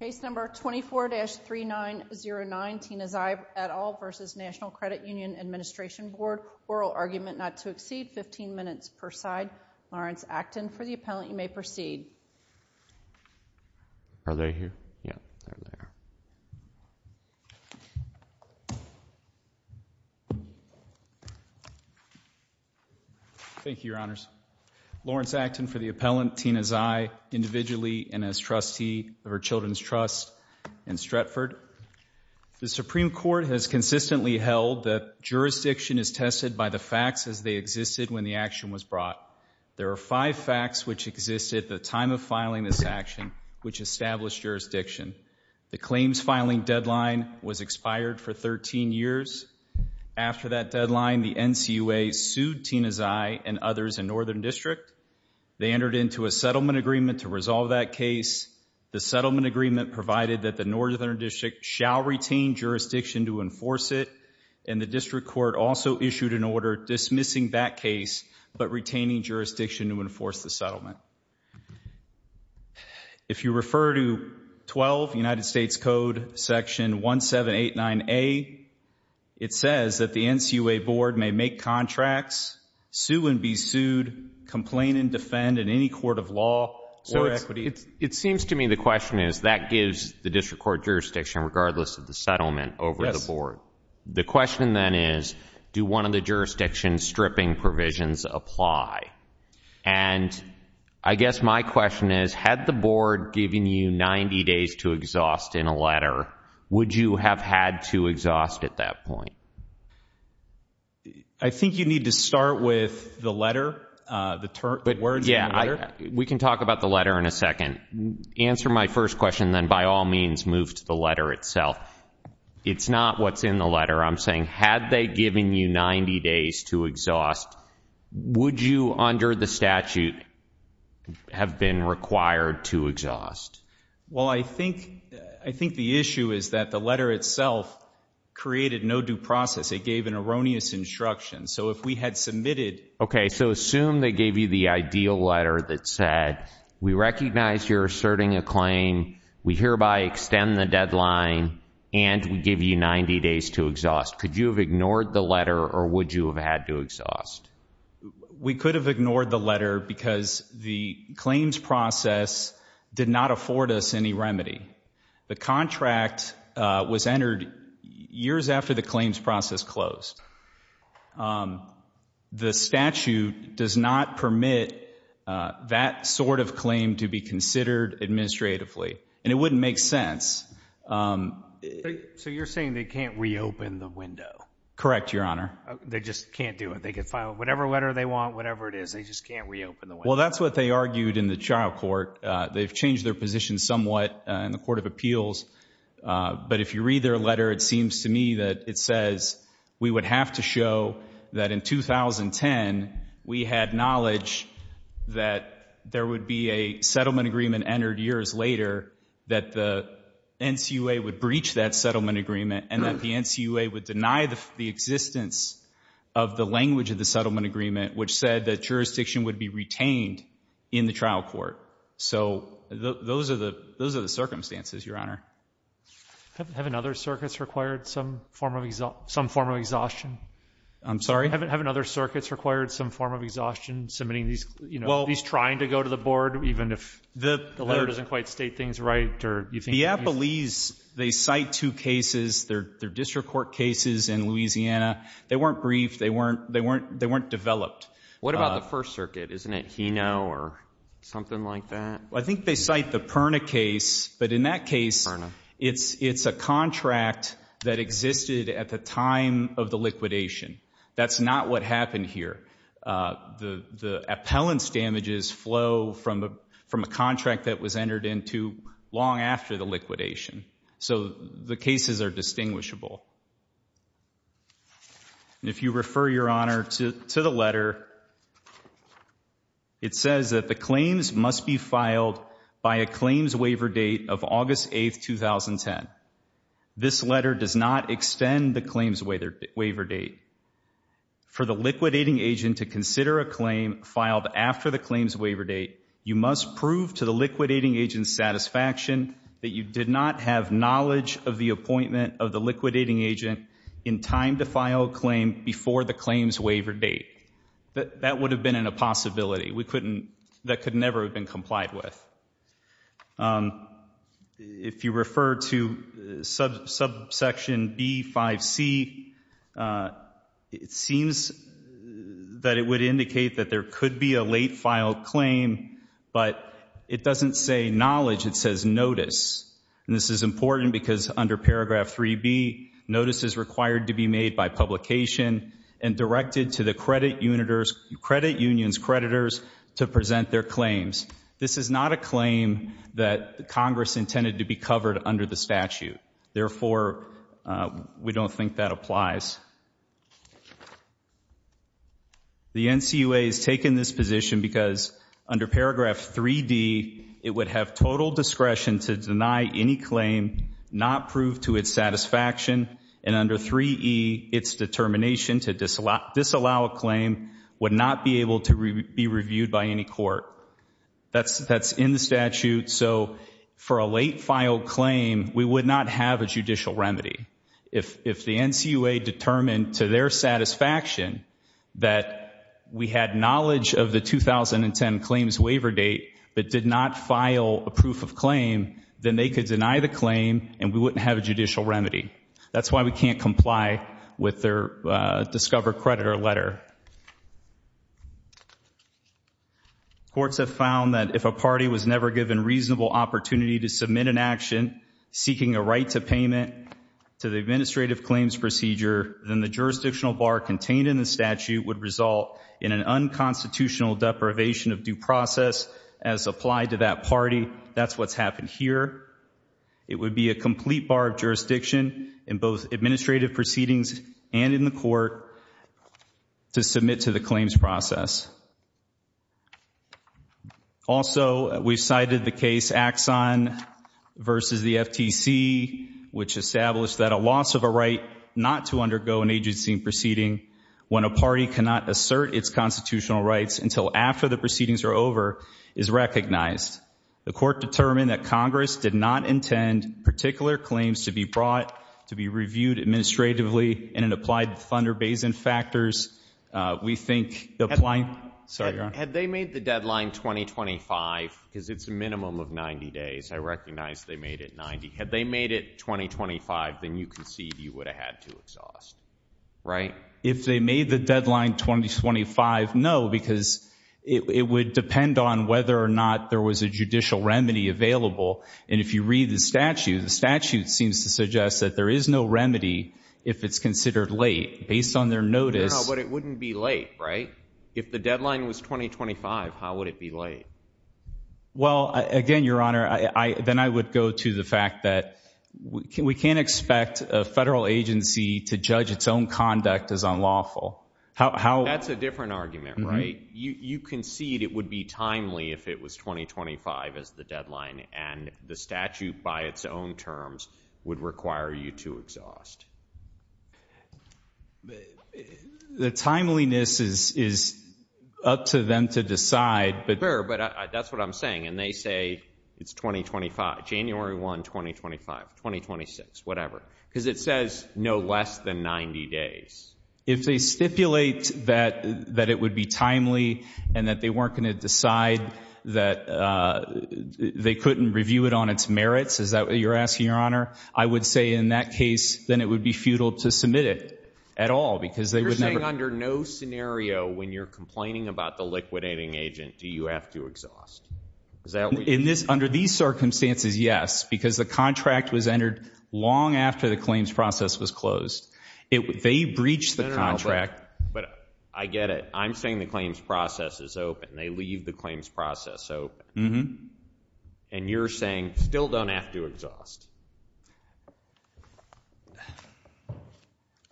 Case number 24-3909, Tina Zai et al. v. Natl Credit Union Administration Board Oral argument not to exceed 15 minutes per side. Lawrence Acton for the appellant, you may proceed. Are they here? Yeah. Thank you, Your Honors. Lawrence Acton for the appellant, Tina Zai, individually and as trustee of her Children's Trust in Stratford. The Supreme Court has consistently held that jurisdiction is tested by the facts as they existed when the action was brought. There are five facts which existed at the time of filing this action which established jurisdiction. The claims filing deadline was expired for 13 years. After that deadline, the NCUA sued Tina Zai and others in Northern District. They entered into a settlement agreement to resolve that case. The settlement agreement provided that the Northern District shall retain jurisdiction to enforce it, and the District Court also issued an order dismissing that case but retaining jurisdiction to enforce the settlement. If you refer to 12 United States Code section 1789A, it says that the NCUA board may make contracts, sue and be sued, complain and defend in any court of law or equity. It seems to me the question is that gives the District Court jurisdiction regardless of the settlement over the board. The question then is, do one of the jurisdiction stripping provisions apply? And I guess my question is, had the board given you 90 days to exhaust in a letter, would you have had to exhaust at that point? I think you need to start with the letter, the words in the letter. We can talk about the letter in a second. Answer my first question, then by all means move to the letter itself. It's not what's in the letter. I'm saying, had they given you 90 days to exhaust, would you under the statute have been required to exhaust? Well, I think the issue is that the letter itself created no due process. It gave an erroneous instruction. So if we had submitted... Okay, so assume they gave you the ideal letter that said, we recognize you're asserting a claim, we hereby extend the deadline and we give you 90 days to exhaust. Could you have ignored the letter or would you have had to exhaust? We could have ignored the letter because the claims process did not afford us any remedy. The contract was entered years after the claims process closed. The statute does not permit that sort of claim to be considered administratively and it wouldn't make sense. So you're saying they can't reopen the window? Correct, Your Honor. They just can't do it. They can file whatever letter they want, whatever it is, they just can't reopen the window. Well, that's what they argued in the trial court. They've changed their position somewhat in the Court of Appeals. But if you read their letter, it seems to me that it says, we would have to show that in 2010, we had knowledge that there would be a settlement agreement entered years later, that the NCUA would breach that settlement agreement and that the NCUA would deny the existence of the language of the settlement agreement, which said that jurisdiction would be retained in the trial court. So those are the circumstances, Your Honor. Haven't other circuits required some form of exhaustion? I'm sorry? Haven't other circuits required some form of exhaustion, submitting these, you know, these trying to go to the board, even if the letter doesn't quite state things right or you think? Well, the NAPA leaves, they cite two cases, they're district court cases in Louisiana. They weren't briefed. They weren't developed. What about the First Circuit? Isn't it Hino or something like that? I think they cite the Perna case. But in that case, it's a contract that existed at the time of the liquidation. That's not what happened here. The appellants damages flow from a contract that was entered into long after the liquidation. So the cases are distinguishable. If you refer, Your Honor, to the letter, it says that the claims must be filed by a claims waiver date of August 8th, 2010. This letter does not extend the claims waiver date. For the liquidating agent to consider a claim filed after the claims waiver date, you must prove to the liquidating agent's satisfaction that you did not have knowledge of the appointment of the liquidating agent in time to file a claim before the claims waiver date. That would have been a possibility. We couldn't, that could never have been complied with. If you refer to subsection B-5C, it seems that it would indicate that there could be a late file claim, but it doesn't say knowledge, it says notice. And this is important because under paragraph 3B, notice is required to be made by publication and directed to the credit union's creditors to present their claims. This is not a claim that Congress intended to be covered under the statute. Therefore, we don't think that applies. The NCUA has taken this position because under paragraph 3D, it would have total discretion to deny any claim not proved to its satisfaction, and under 3E, its determination to disallow a claim would not be able to be reviewed by any court. That's in the statute, so for a late file claim, we would not have a judicial remedy. If the NCUA determined to their satisfaction that we had knowledge of the 2010 claims waiver date, but did not file a proof of claim, then they could deny the claim and we wouldn't have a judicial remedy. That's why we can't comply with their discover creditor letter. Courts have found that if a party was never given reasonable opportunity to submit an action seeking a right to payment to the administrative claims procedure, then the jurisdictional bar contained in the statute would result in an unconstitutional deprivation of due process as applied to that party. That's what's happened here. It would be a complete bar of jurisdiction in both administrative proceedings and in the court to submit to the claims process. Also we've cited the case Axon versus the FTC, which established that a loss of a right not to undergo an agency proceeding when a party cannot assert its constitutional rights until after the proceedings are over is recognized. The court determined that Congress did not intend particular claims to be brought, to be reviewed administratively, and in applied to Thunder Basin factors. We think the applying... Had they made the deadline 2025, because it's a minimum of 90 days, I recognize they made it 90. Had they made it 2025, then you can see you would have had to exhaust, right? If they made the deadline 2025, no, because it would depend on whether or not there was a judicial remedy available. And if you read the statute, the statute seems to suggest that there is no remedy if it's considered late. Based on their notice... No, but it wouldn't be late, right? If the deadline was 2025, how would it be late? Well, again, Your Honor, then I would go to the fact that we can't expect a federal agency to judge its own conduct as unlawful. How... That's a different argument, right? You concede it would be timely if it was 2025 as the deadline and the statute by its own terms would require you to exhaust. The timeliness is up to them to decide, but... Fair, but that's what I'm saying. And they say it's 2025, January 1, 2025, 2026, whatever, because it says no less than 90 days. If they stipulate that it would be timely and that they weren't going to decide that they couldn't review it on its merits, is that what you're asking, Your Honor? I would say in that case, then it would be futile to submit it at all because they would never... You're saying under no scenario when you're complaining about the liquidating agent, do you have to exhaust? Is that what you're... Under these circumstances, yes, because the contract was entered long after the claims process was closed. They breached the contract, but I get it. I'm saying the claims process is open. They leave the claims process open. And you're saying still don't have to exhaust.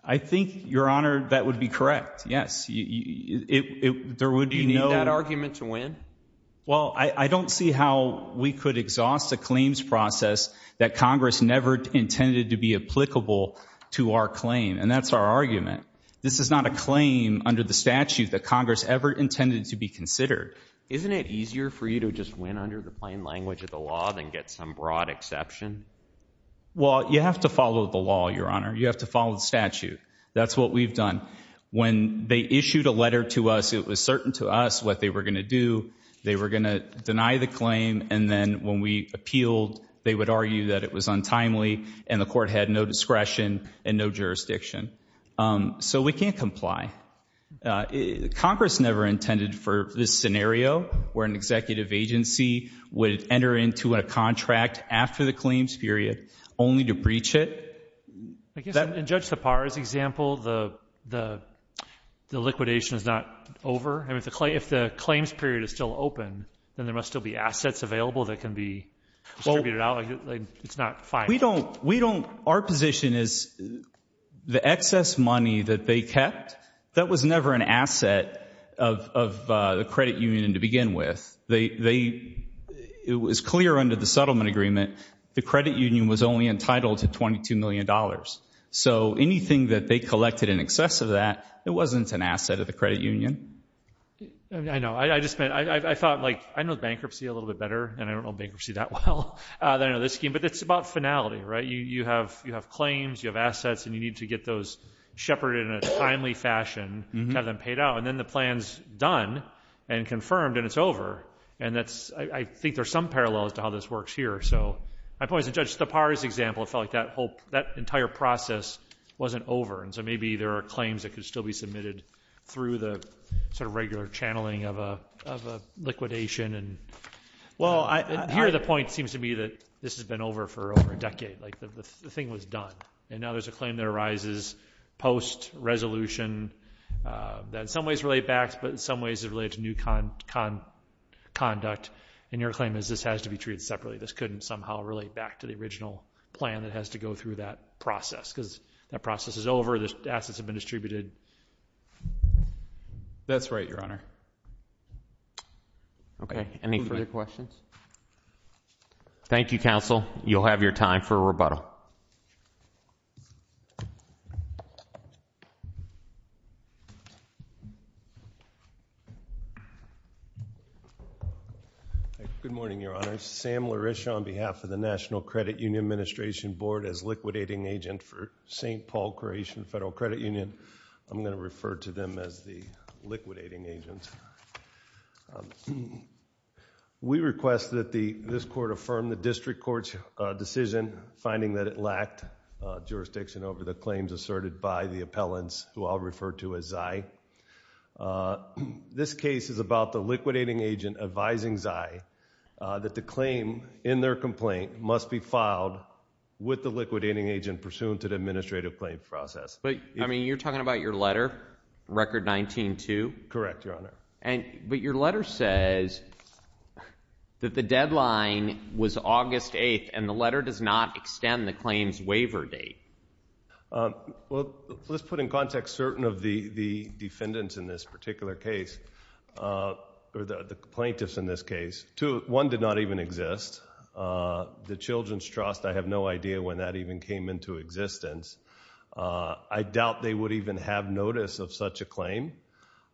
I think, Your Honor, that would be correct, yes. There would be no... Do you need that argument to win? Well, I don't see how we could exhaust the claims process that Congress never intended to be applicable to our claim, and that's our argument. This is not a claim under the statute that Congress ever intended to be considered. Isn't it easier for you to just win under the plain language of the law than get some broad exception? Well, you have to follow the law, Your Honor. You have to follow the statute. That's what we've done. When they issued a letter to us, it was certain to us what they were going to do. They were going to deny the claim, and then when we appealed, they would argue that it was untimely and the court had no discretion and no jurisdiction. So we can't comply. Congress never intended for this scenario where an executive agency would enter into a contract after the claims period only to breach it. I guess in Judge Sipar's example, the liquidation is not over. If the claims period is still over, it's not fine. Our position is the excess money that they kept, that was never an asset of the credit union to begin with. It was clear under the settlement agreement the credit union was only entitled to $22 million. So anything that they collected in excess of that, it wasn't an asset of the credit union. I know. I just thought, I know bankruptcy a little bit better, and I don't know bankruptcy that well than under this scheme. But it's about finality, right? You have claims, you have assets, and you need to get those shepherded in a timely fashion to have them paid out. And then the plan's done and confirmed, and it's over. And I think there's some parallels to how this works here. So my point is, in Judge Sipar's example, it felt like that entire process wasn't over. And so maybe there are claims that could still be submitted through the sort of regular channeling of a liquidation. Well, here the point seems to be that this has been over for over a decade. The thing was done. And now there's a claim that arises post-resolution that in some ways relate back, but in some ways is related to new conduct. And your claim is this has to be treated separately. This couldn't somehow relate back to the original plan that has to go through that process. Because that process is over, the assets have been distributed. That's right, Your Honor. Okay. Any further questions? Thank you, counsel. You'll have your time for a rebuttal. Good morning, Your Honor. Sam Lariscia on behalf of the National Credit Union Administration Board as liquidating agent for St. Paul-Croatian Federal Credit Union. I'm going to refer to them as the liquidating agents. We request that this court affirm the district court's decision finding that it lacked jurisdiction over the claims asserted by the appellants, who I'll refer to as Zai. This case is about the liquidating agent advising Zai that the claim in their complaint must be filed with the liquidating agent pursuant to the administrative claim process. But, I mean, you're talking about your letter, Record 19-2? Correct, Your Honor. But your letter says that the deadline was August 8th, and the letter does not extend the claim's waiver date. Well, let's put in context certain of the defendants in this particular case, or the plaintiffs in this case. Two, one did not even exist. The Children's Trust, I have no idea when that even came into existence. I doubt they would even have notice of such a claim.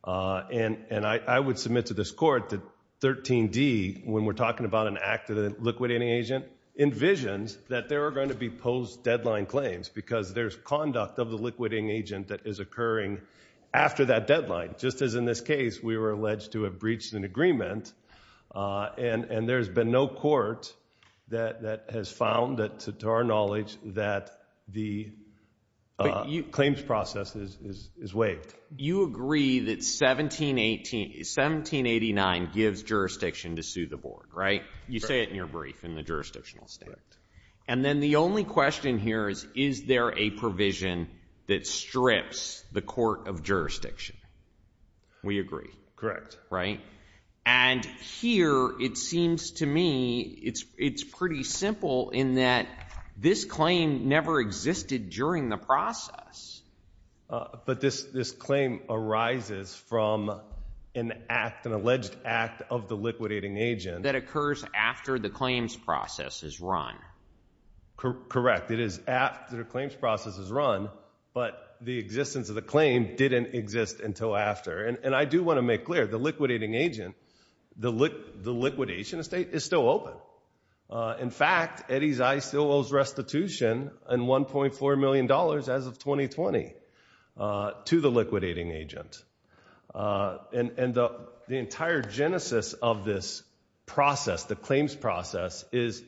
And I would submit to this court that 13D, when we're talking about an act of the liquidating agent, envisions that there are going to be post-deadline claims because there's conduct of the liquidating agent that is occurring after that deadline. Just as in this case, we were alleged to have breached an agreement, and there's been no court that has found, to our knowledge, that the claims process is waived. You agree that 1789 gives jurisdiction to sue the board, right? You say it in your brief in the jurisdictional statement. And then the only question here is, is there a provision that strips the court of jurisdiction? We agree. Right? And here, it seems to me, it's pretty simple in that this claim never existed during the process. But this claim arises from an act, an alleged act of the liquidating agent. That occurs after the claims process is run. Correct. It is after the claims process is run, but the existence of the claim didn't exist until after. And I do want to make clear, the liquidating agent, the liquidation estate is still open. In fact, Eddy's Eye still owes restitution and $1.4 million as of 2020 to the liquidating agent. And the entire genesis of this process, the claims process, is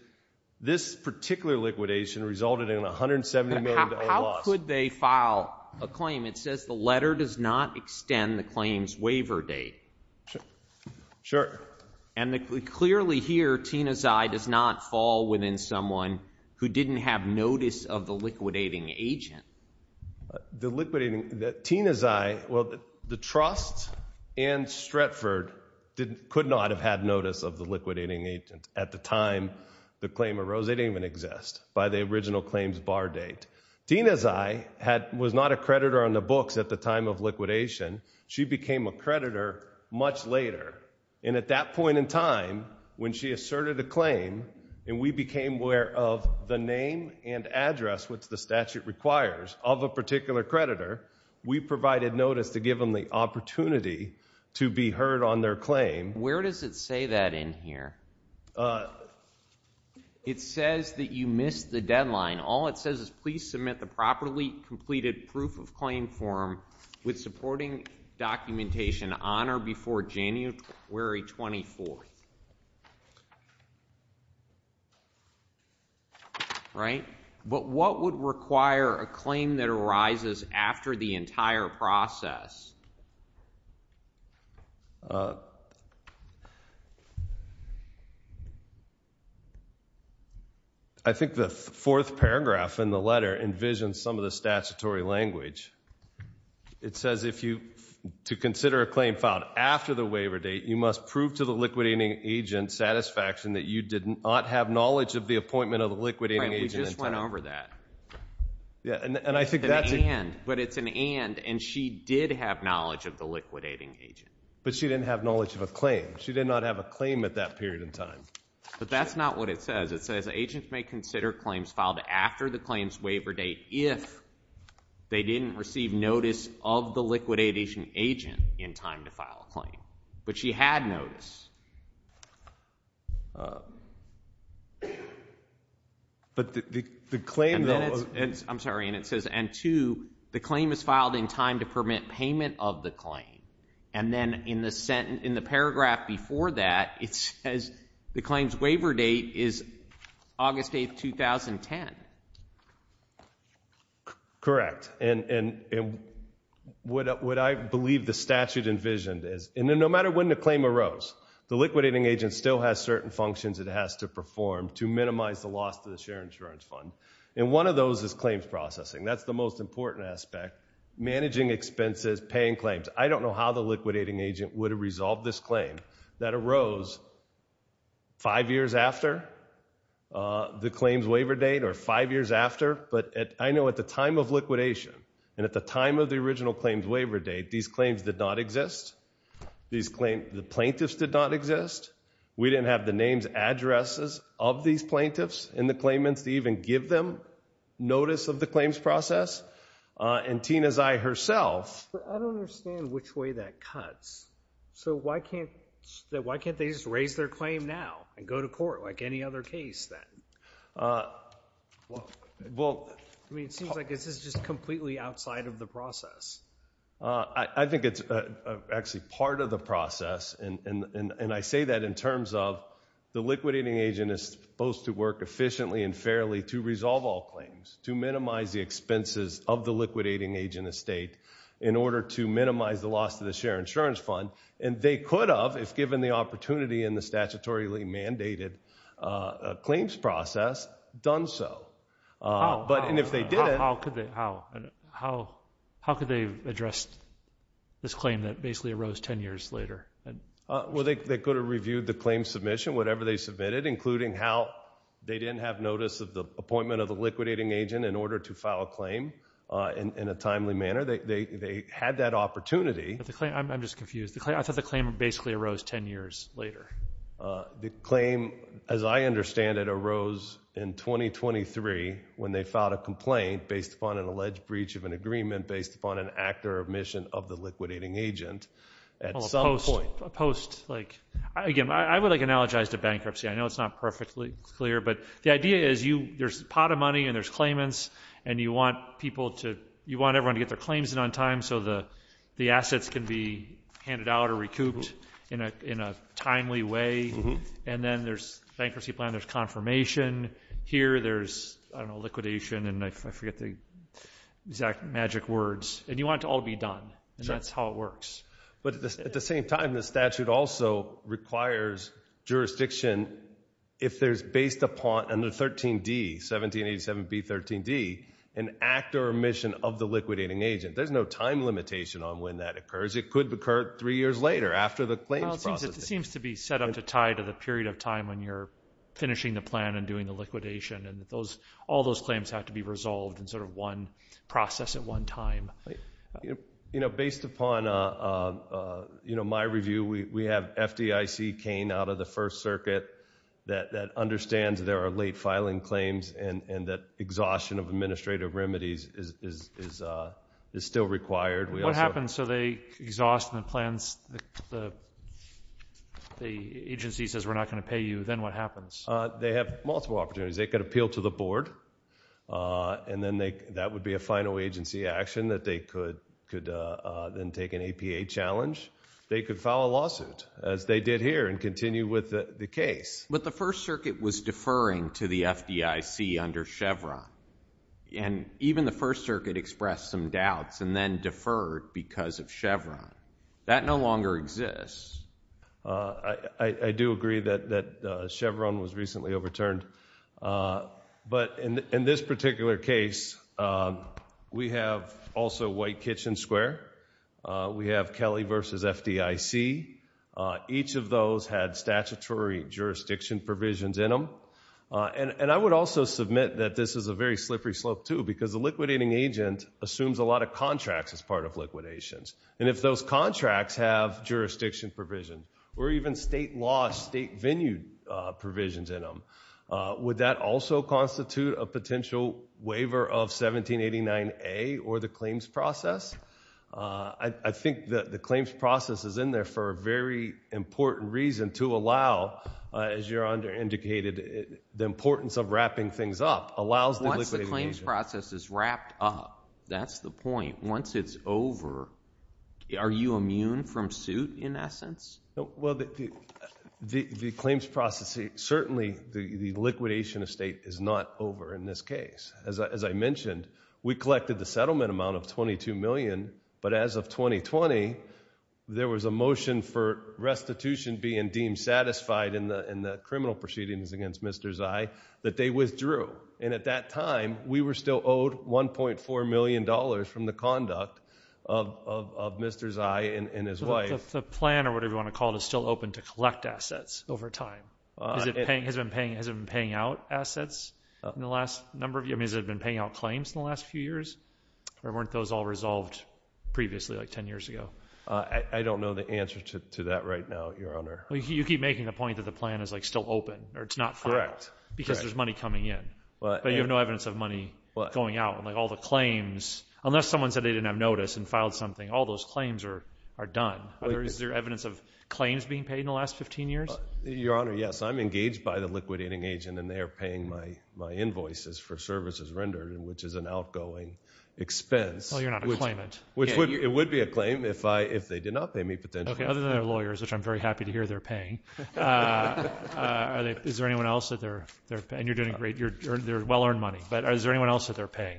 this particular liquidation resulted in $170 million of loss. But how could they file a claim? It says the letter does not extend the claim's waiver date. Sure. And clearly here, Tina's Eye does not fall within someone who didn't have notice of the liquidating agent. The liquidating, Tina's Eye, well, the trust and Stratford could not have had notice of the liquidating agent at the time the claim arose. They didn't even exist by the original claims bar date. Tina's Eye was not a creditor on the books at the time of liquidation. She became a creditor much later. And at that point in time, when she asserted a claim, and we became aware of the name and address, which the statute requires, of a particular creditor, we provided notice to give them the opportunity to be heard on their claim. Where does it say that in here? It says that you missed the deadline. All it says is please submit the properly completed proof of claim form with supporting documentation on or before January 24th. Right? But what would require a claim that arises after the entire process? I think the fourth paragraph in the letter envisions some of the statutory language. It says if you, to consider a claim filed after the waiver date, you must prove to the liquidating agent satisfaction that you did not have knowledge of the appointment of the liquidating agent. Right, we just went over that. Yeah, and I think that's... It's an and, but it's an and, and she did have knowledge of the liquidating agent. But she didn't have knowledge of a claim. She did not have a claim at that period in time. But that's not what it says. It says agents may consider claims filed after the claim's waiver date if they didn't receive notice of the liquidating agent in time to file a claim. But she had notice. But the claim, though... I'm sorry, and it says, and two, the claim is filed in time to permit payment of the claim. And then in the paragraph before that, it says the claim's waiver date is August 8, 2010. Correct. And what I believe the statute envisioned is, and then no matter when the claim arose, the liquidating agent still has certain functions it has to perform to minimize the loss to the shared insurance fund. And one of those is claims processing. That's the most important aspect. Managing expenses, paying claims. I don't know how the liquidating agent would have resolved this claim that arose five years after the claim's waiver date or five years after. But I know at the time of liquidation and at the time of the original claim's waiver date, these claims did not exist. The plaintiffs did not exist. We didn't have the names, addresses of these plaintiffs and the claimants to even give them notice of the claims process. And Tina's eye herself. But I don't understand which way that cuts. So why can't they just raise their claim now and go to court like any other case then? I mean, it seems like this is just completely outside of the process. I think it's actually part of the process. And I say that in terms of the liquidating agent is supposed to work efficiently and resolve all claims, to minimize the expenses of the liquidating agent estate in order to minimize the loss of the share insurance fund. And they could have, if given the opportunity in the statutorily mandated claims process, done so. How could they address this claim that basically arose ten years later? Well, they could have reviewed the claim submission, whatever they submitted, including how they didn't have notice of the appointment of the liquidating agent in order to file a claim in a timely manner. They had that opportunity. I'm just confused. I thought the claim basically arose ten years later. The claim, as I understand it, arose in 2023 when they filed a complaint based upon an alleged breach of an agreement based upon an act or omission of the liquidating agent at some point. Again, I would analogize to bankruptcy. I know it's not perfectly clear, but the idea is there's pot of money and there's claimants and you want everyone to get their claims in on time so the assets can be handed out or recouped in a timely way. And then there's bankruptcy plan, there's confirmation. Here there's, I don't know, liquidation, and I forget the exact magic words. And you want it to all be done, and that's how it works. But at the same time, the statute also requires jurisdiction if there's based upon under 13D, 1787B13D, an act or omission of the liquidating agent. There's no time limitation on when that occurs. It could occur three years later after the claims process. Well, it seems to be set up to tie to the period of time when you're finishing the plan and doing the liquidation, and all those claims have to be resolved in sort of one process at one time. Based upon my review, we have FDIC cane out of the First Circuit that understands there are late filing claims and that exhaustion of administrative remedies is still required. What happens so they exhaust the plans, the agency says we're not going to pay you, then what happens? They have multiple opportunities. They could appeal to the board, and then that would be a final agency action that they could then take an APA challenge. They could file a lawsuit, as they did here, and continue with the case. But the First Circuit was deferring to the FDIC under Chevron, and even the First Circuit expressed some doubts and then deferred because of Chevron. That no longer exists. I do agree that Chevron was recently overturned. But in this particular case, we have also White Kitchen Square. We have Kelly versus FDIC. Each of those had statutory jurisdiction provisions in them. And I would also submit that this is a very slippery slope too because the liquidating agent assumes a lot of contracts as part of liquidations. And if those contracts have jurisdiction provisions or even state law, state venue provisions in them, would that also constitute a potential waiver of 1789A or the claims process? I think the claims process is in there for a very important reason to allow, as you're under-indicated, the importance of wrapping things up allows the liquidating agent. Once the claims process is wrapped up, that's the point. Once it's over, are you immune from suit in essence? Well, the claims process, certainly the liquidation of state is not over in this case. As I mentioned, we collected the settlement amount of $22 million, but as of 2020 there was a motion for restitution being deemed satisfied in the criminal proceedings against Mr. Zai that they withdrew. And at that time, we were still owed $1.4 million from the conduct of Mr. Zai and his wife. The plan or whatever you want to call it is still open to collect assets over time. Has it been paying out assets in the last number of years? I mean, has it been paying out claims in the last few years? Or weren't those all resolved previously like 10 years ago? I don't know the answer to that right now, Your Honor. You keep making the point that the plan is still open or it's not final. Correct. Because there's money coming in, but you have no evidence of money going out. Like all the claims, unless someone said they didn't have notice and filed something, all those claims are done. Is there evidence of claims being paid in the last 15 years? Your Honor, yes. I'm engaged by the liquidating agent, and they are paying my invoices for services rendered, which is an outgoing expense. Oh, you're not a claimant. It would be a claim if they did not pay me potentially. Okay, other than their lawyers, which I'm very happy to hear they're paying. Is there anyone else that they're paying? And you're doing great. They're well-earned money. But is there anyone else that they're paying?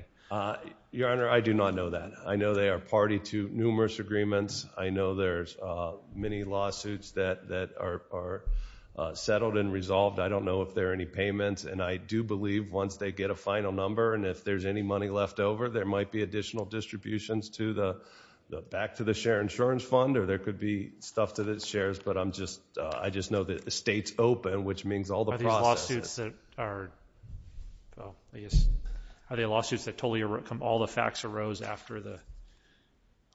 Your Honor, I do not know that. I know they are party to numerous agreements. I know there's many lawsuits that are settled and resolved. I don't know if there are any payments. And I do believe once they get a final number and if there's any money left over, there might be additional distributions back to the share insurance fund, or there could be stuff to the shares. But I just know that the state's open, which means all the processes. Are these lawsuits that are, well, I guess, are they lawsuits that totally all the facts arose after the,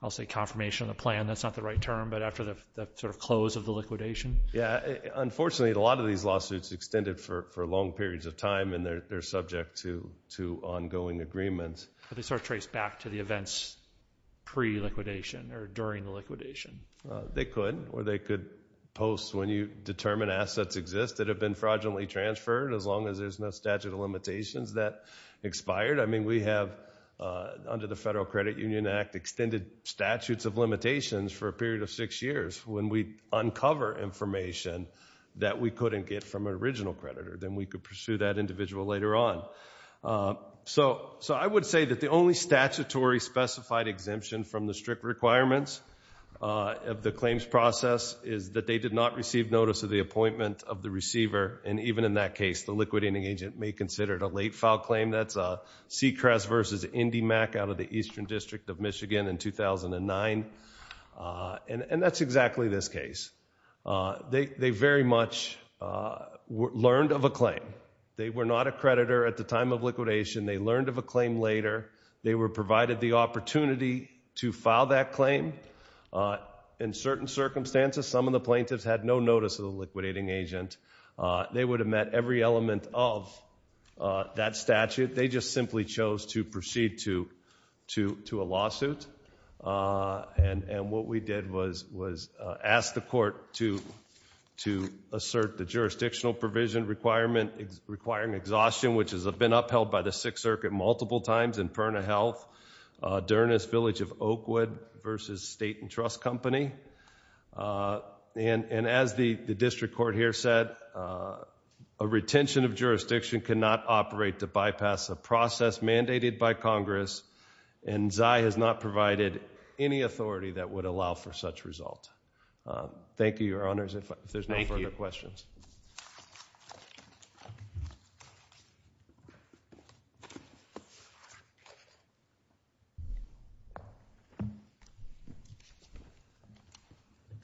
I'll say, confirmation of the plan? That's not the right term, but after the sort of close of the liquidation? Yeah. Unfortunately, a lot of these lawsuits extended for long periods of time, and they're subject to ongoing agreements. Are they sort of traced back to the events pre-liquidation or during the liquidation? They could, or they could post when you determine assets exist that have been fraudulently transferred, as long as there's no statute of limitations that expired. I mean, we have, under the Federal Credit Union Act, extended statutes of limitations for a period of six years. When we uncover information that we couldn't get from an original creditor, then we could pursue that individual later on. So I would say that the only statutory specified exemption from the strict requirements of the claims process is that they did not receive notice of the appointment of the receiver. And even in that case, the liquidating agent may consider it a late-file claim. That's Sechress v. IndyMac out of the Eastern District of Michigan in 2009. And that's exactly this case. They very much learned of a claim. They were not a creditor at the time of liquidation. They learned of a claim later. They were provided the opportunity to file that claim. In certain circumstances, some of the plaintiffs had no notice of the liquidating agent. They would have met every element of that statute. They just simply chose to proceed to a lawsuit. And what we did was ask the court to assert the jurisdictional provision requirement requiring exhaustion, which has been upheld by the Sixth Circuit multiple times, in Perna Health, Dernis Village of Oakwood v. State & Trust Company. And as the district court here said, a retention of jurisdiction cannot operate to bypass a process mandated by Congress. And Zai has not provided any authority that would allow for such result. Thank you, Your Honors, if there's no further questions.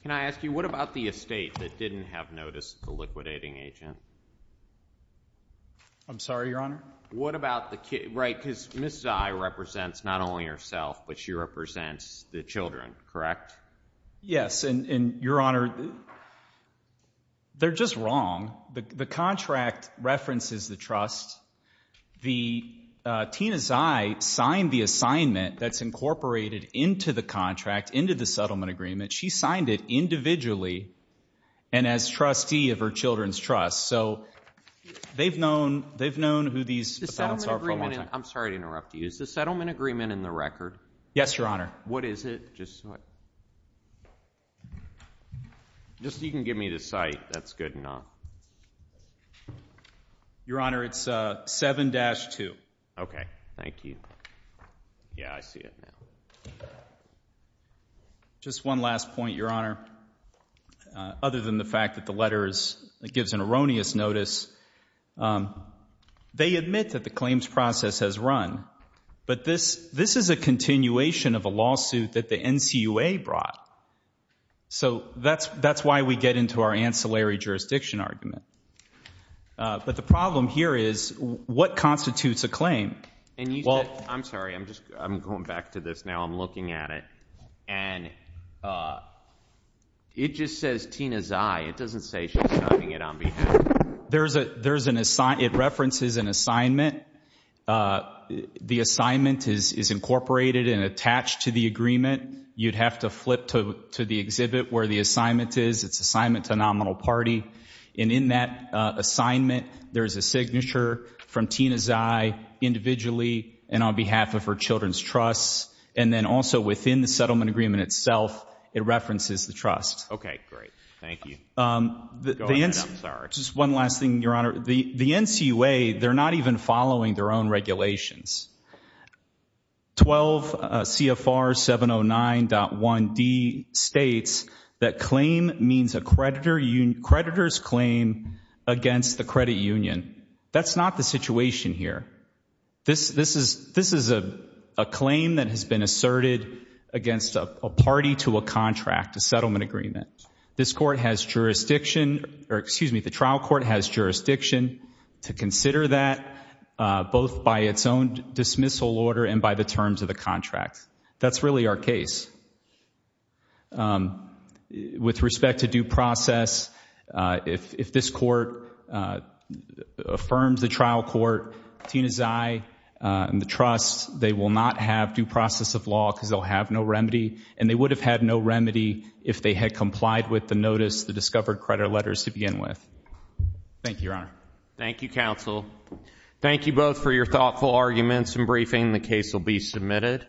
Can I ask you, what about the estate that didn't have notice of the liquidating agent? I'm sorry, Your Honor? Right, because Ms. Zai represents not only herself, but she represents the children, correct? Yes, and, Your Honor, they're just wrong. The contract references the trust. Tina Zai signed the assignment that's incorporated into the contract, into the settlement agreement. She signed it individually and as trustee of her children's trust. So they've known who these defendants are for a long time. I'm sorry to interrupt you. Is the settlement agreement in the record? Yes, Your Honor. What is it? Just so you can give me the site, that's good enough. Your Honor, it's 7-2. Okay, thank you. Yeah, I see it now. Just one last point, Your Honor. Other than the fact that the letter gives an erroneous notice, they admit that the claims process has run, but this is a continuation of a lawsuit that the NCUA brought. So that's why we get into our ancillary jurisdiction argument. But the problem here is, what constitutes a claim? I'm sorry, I'm going back to this now. I'm looking at it, and it just says Tina Zai. It doesn't say she's signing it on behalf. It references an assignment. The assignment is incorporated and attached to the agreement. You'd have to flip to the exhibit where the assignment is. It's assignment to a nominal party. And in that assignment, there's a signature from Tina Zai individually and on behalf of her children's trusts. And then also within the settlement agreement itself, it references the trust. Okay, great. Thank you. Go ahead, I'm sorry. Just one last thing, Your Honor. The NCUA, they're not even following their own regulations. 12 CFR 709.1D states that claim means a creditor's claim against the credit union. That's not the situation here. This is a claim that has been asserted against a party to a contract, a settlement agreement. This court has jurisdiction, or excuse me, the trial court has jurisdiction to consider that, both by its own dismissal order and by the terms of the contract. That's really our case. With respect to due process, if this court affirms the trial court, Tina Zai, and the trust, they will not have due process of law because they'll have no remedy, and they would have had no remedy if they had complied with the notice, the discovered credit letters to begin with. Thank you, Your Honor. Thank you, counsel. Thank you both for your thoughtful arguments and briefing. The case will be submitted.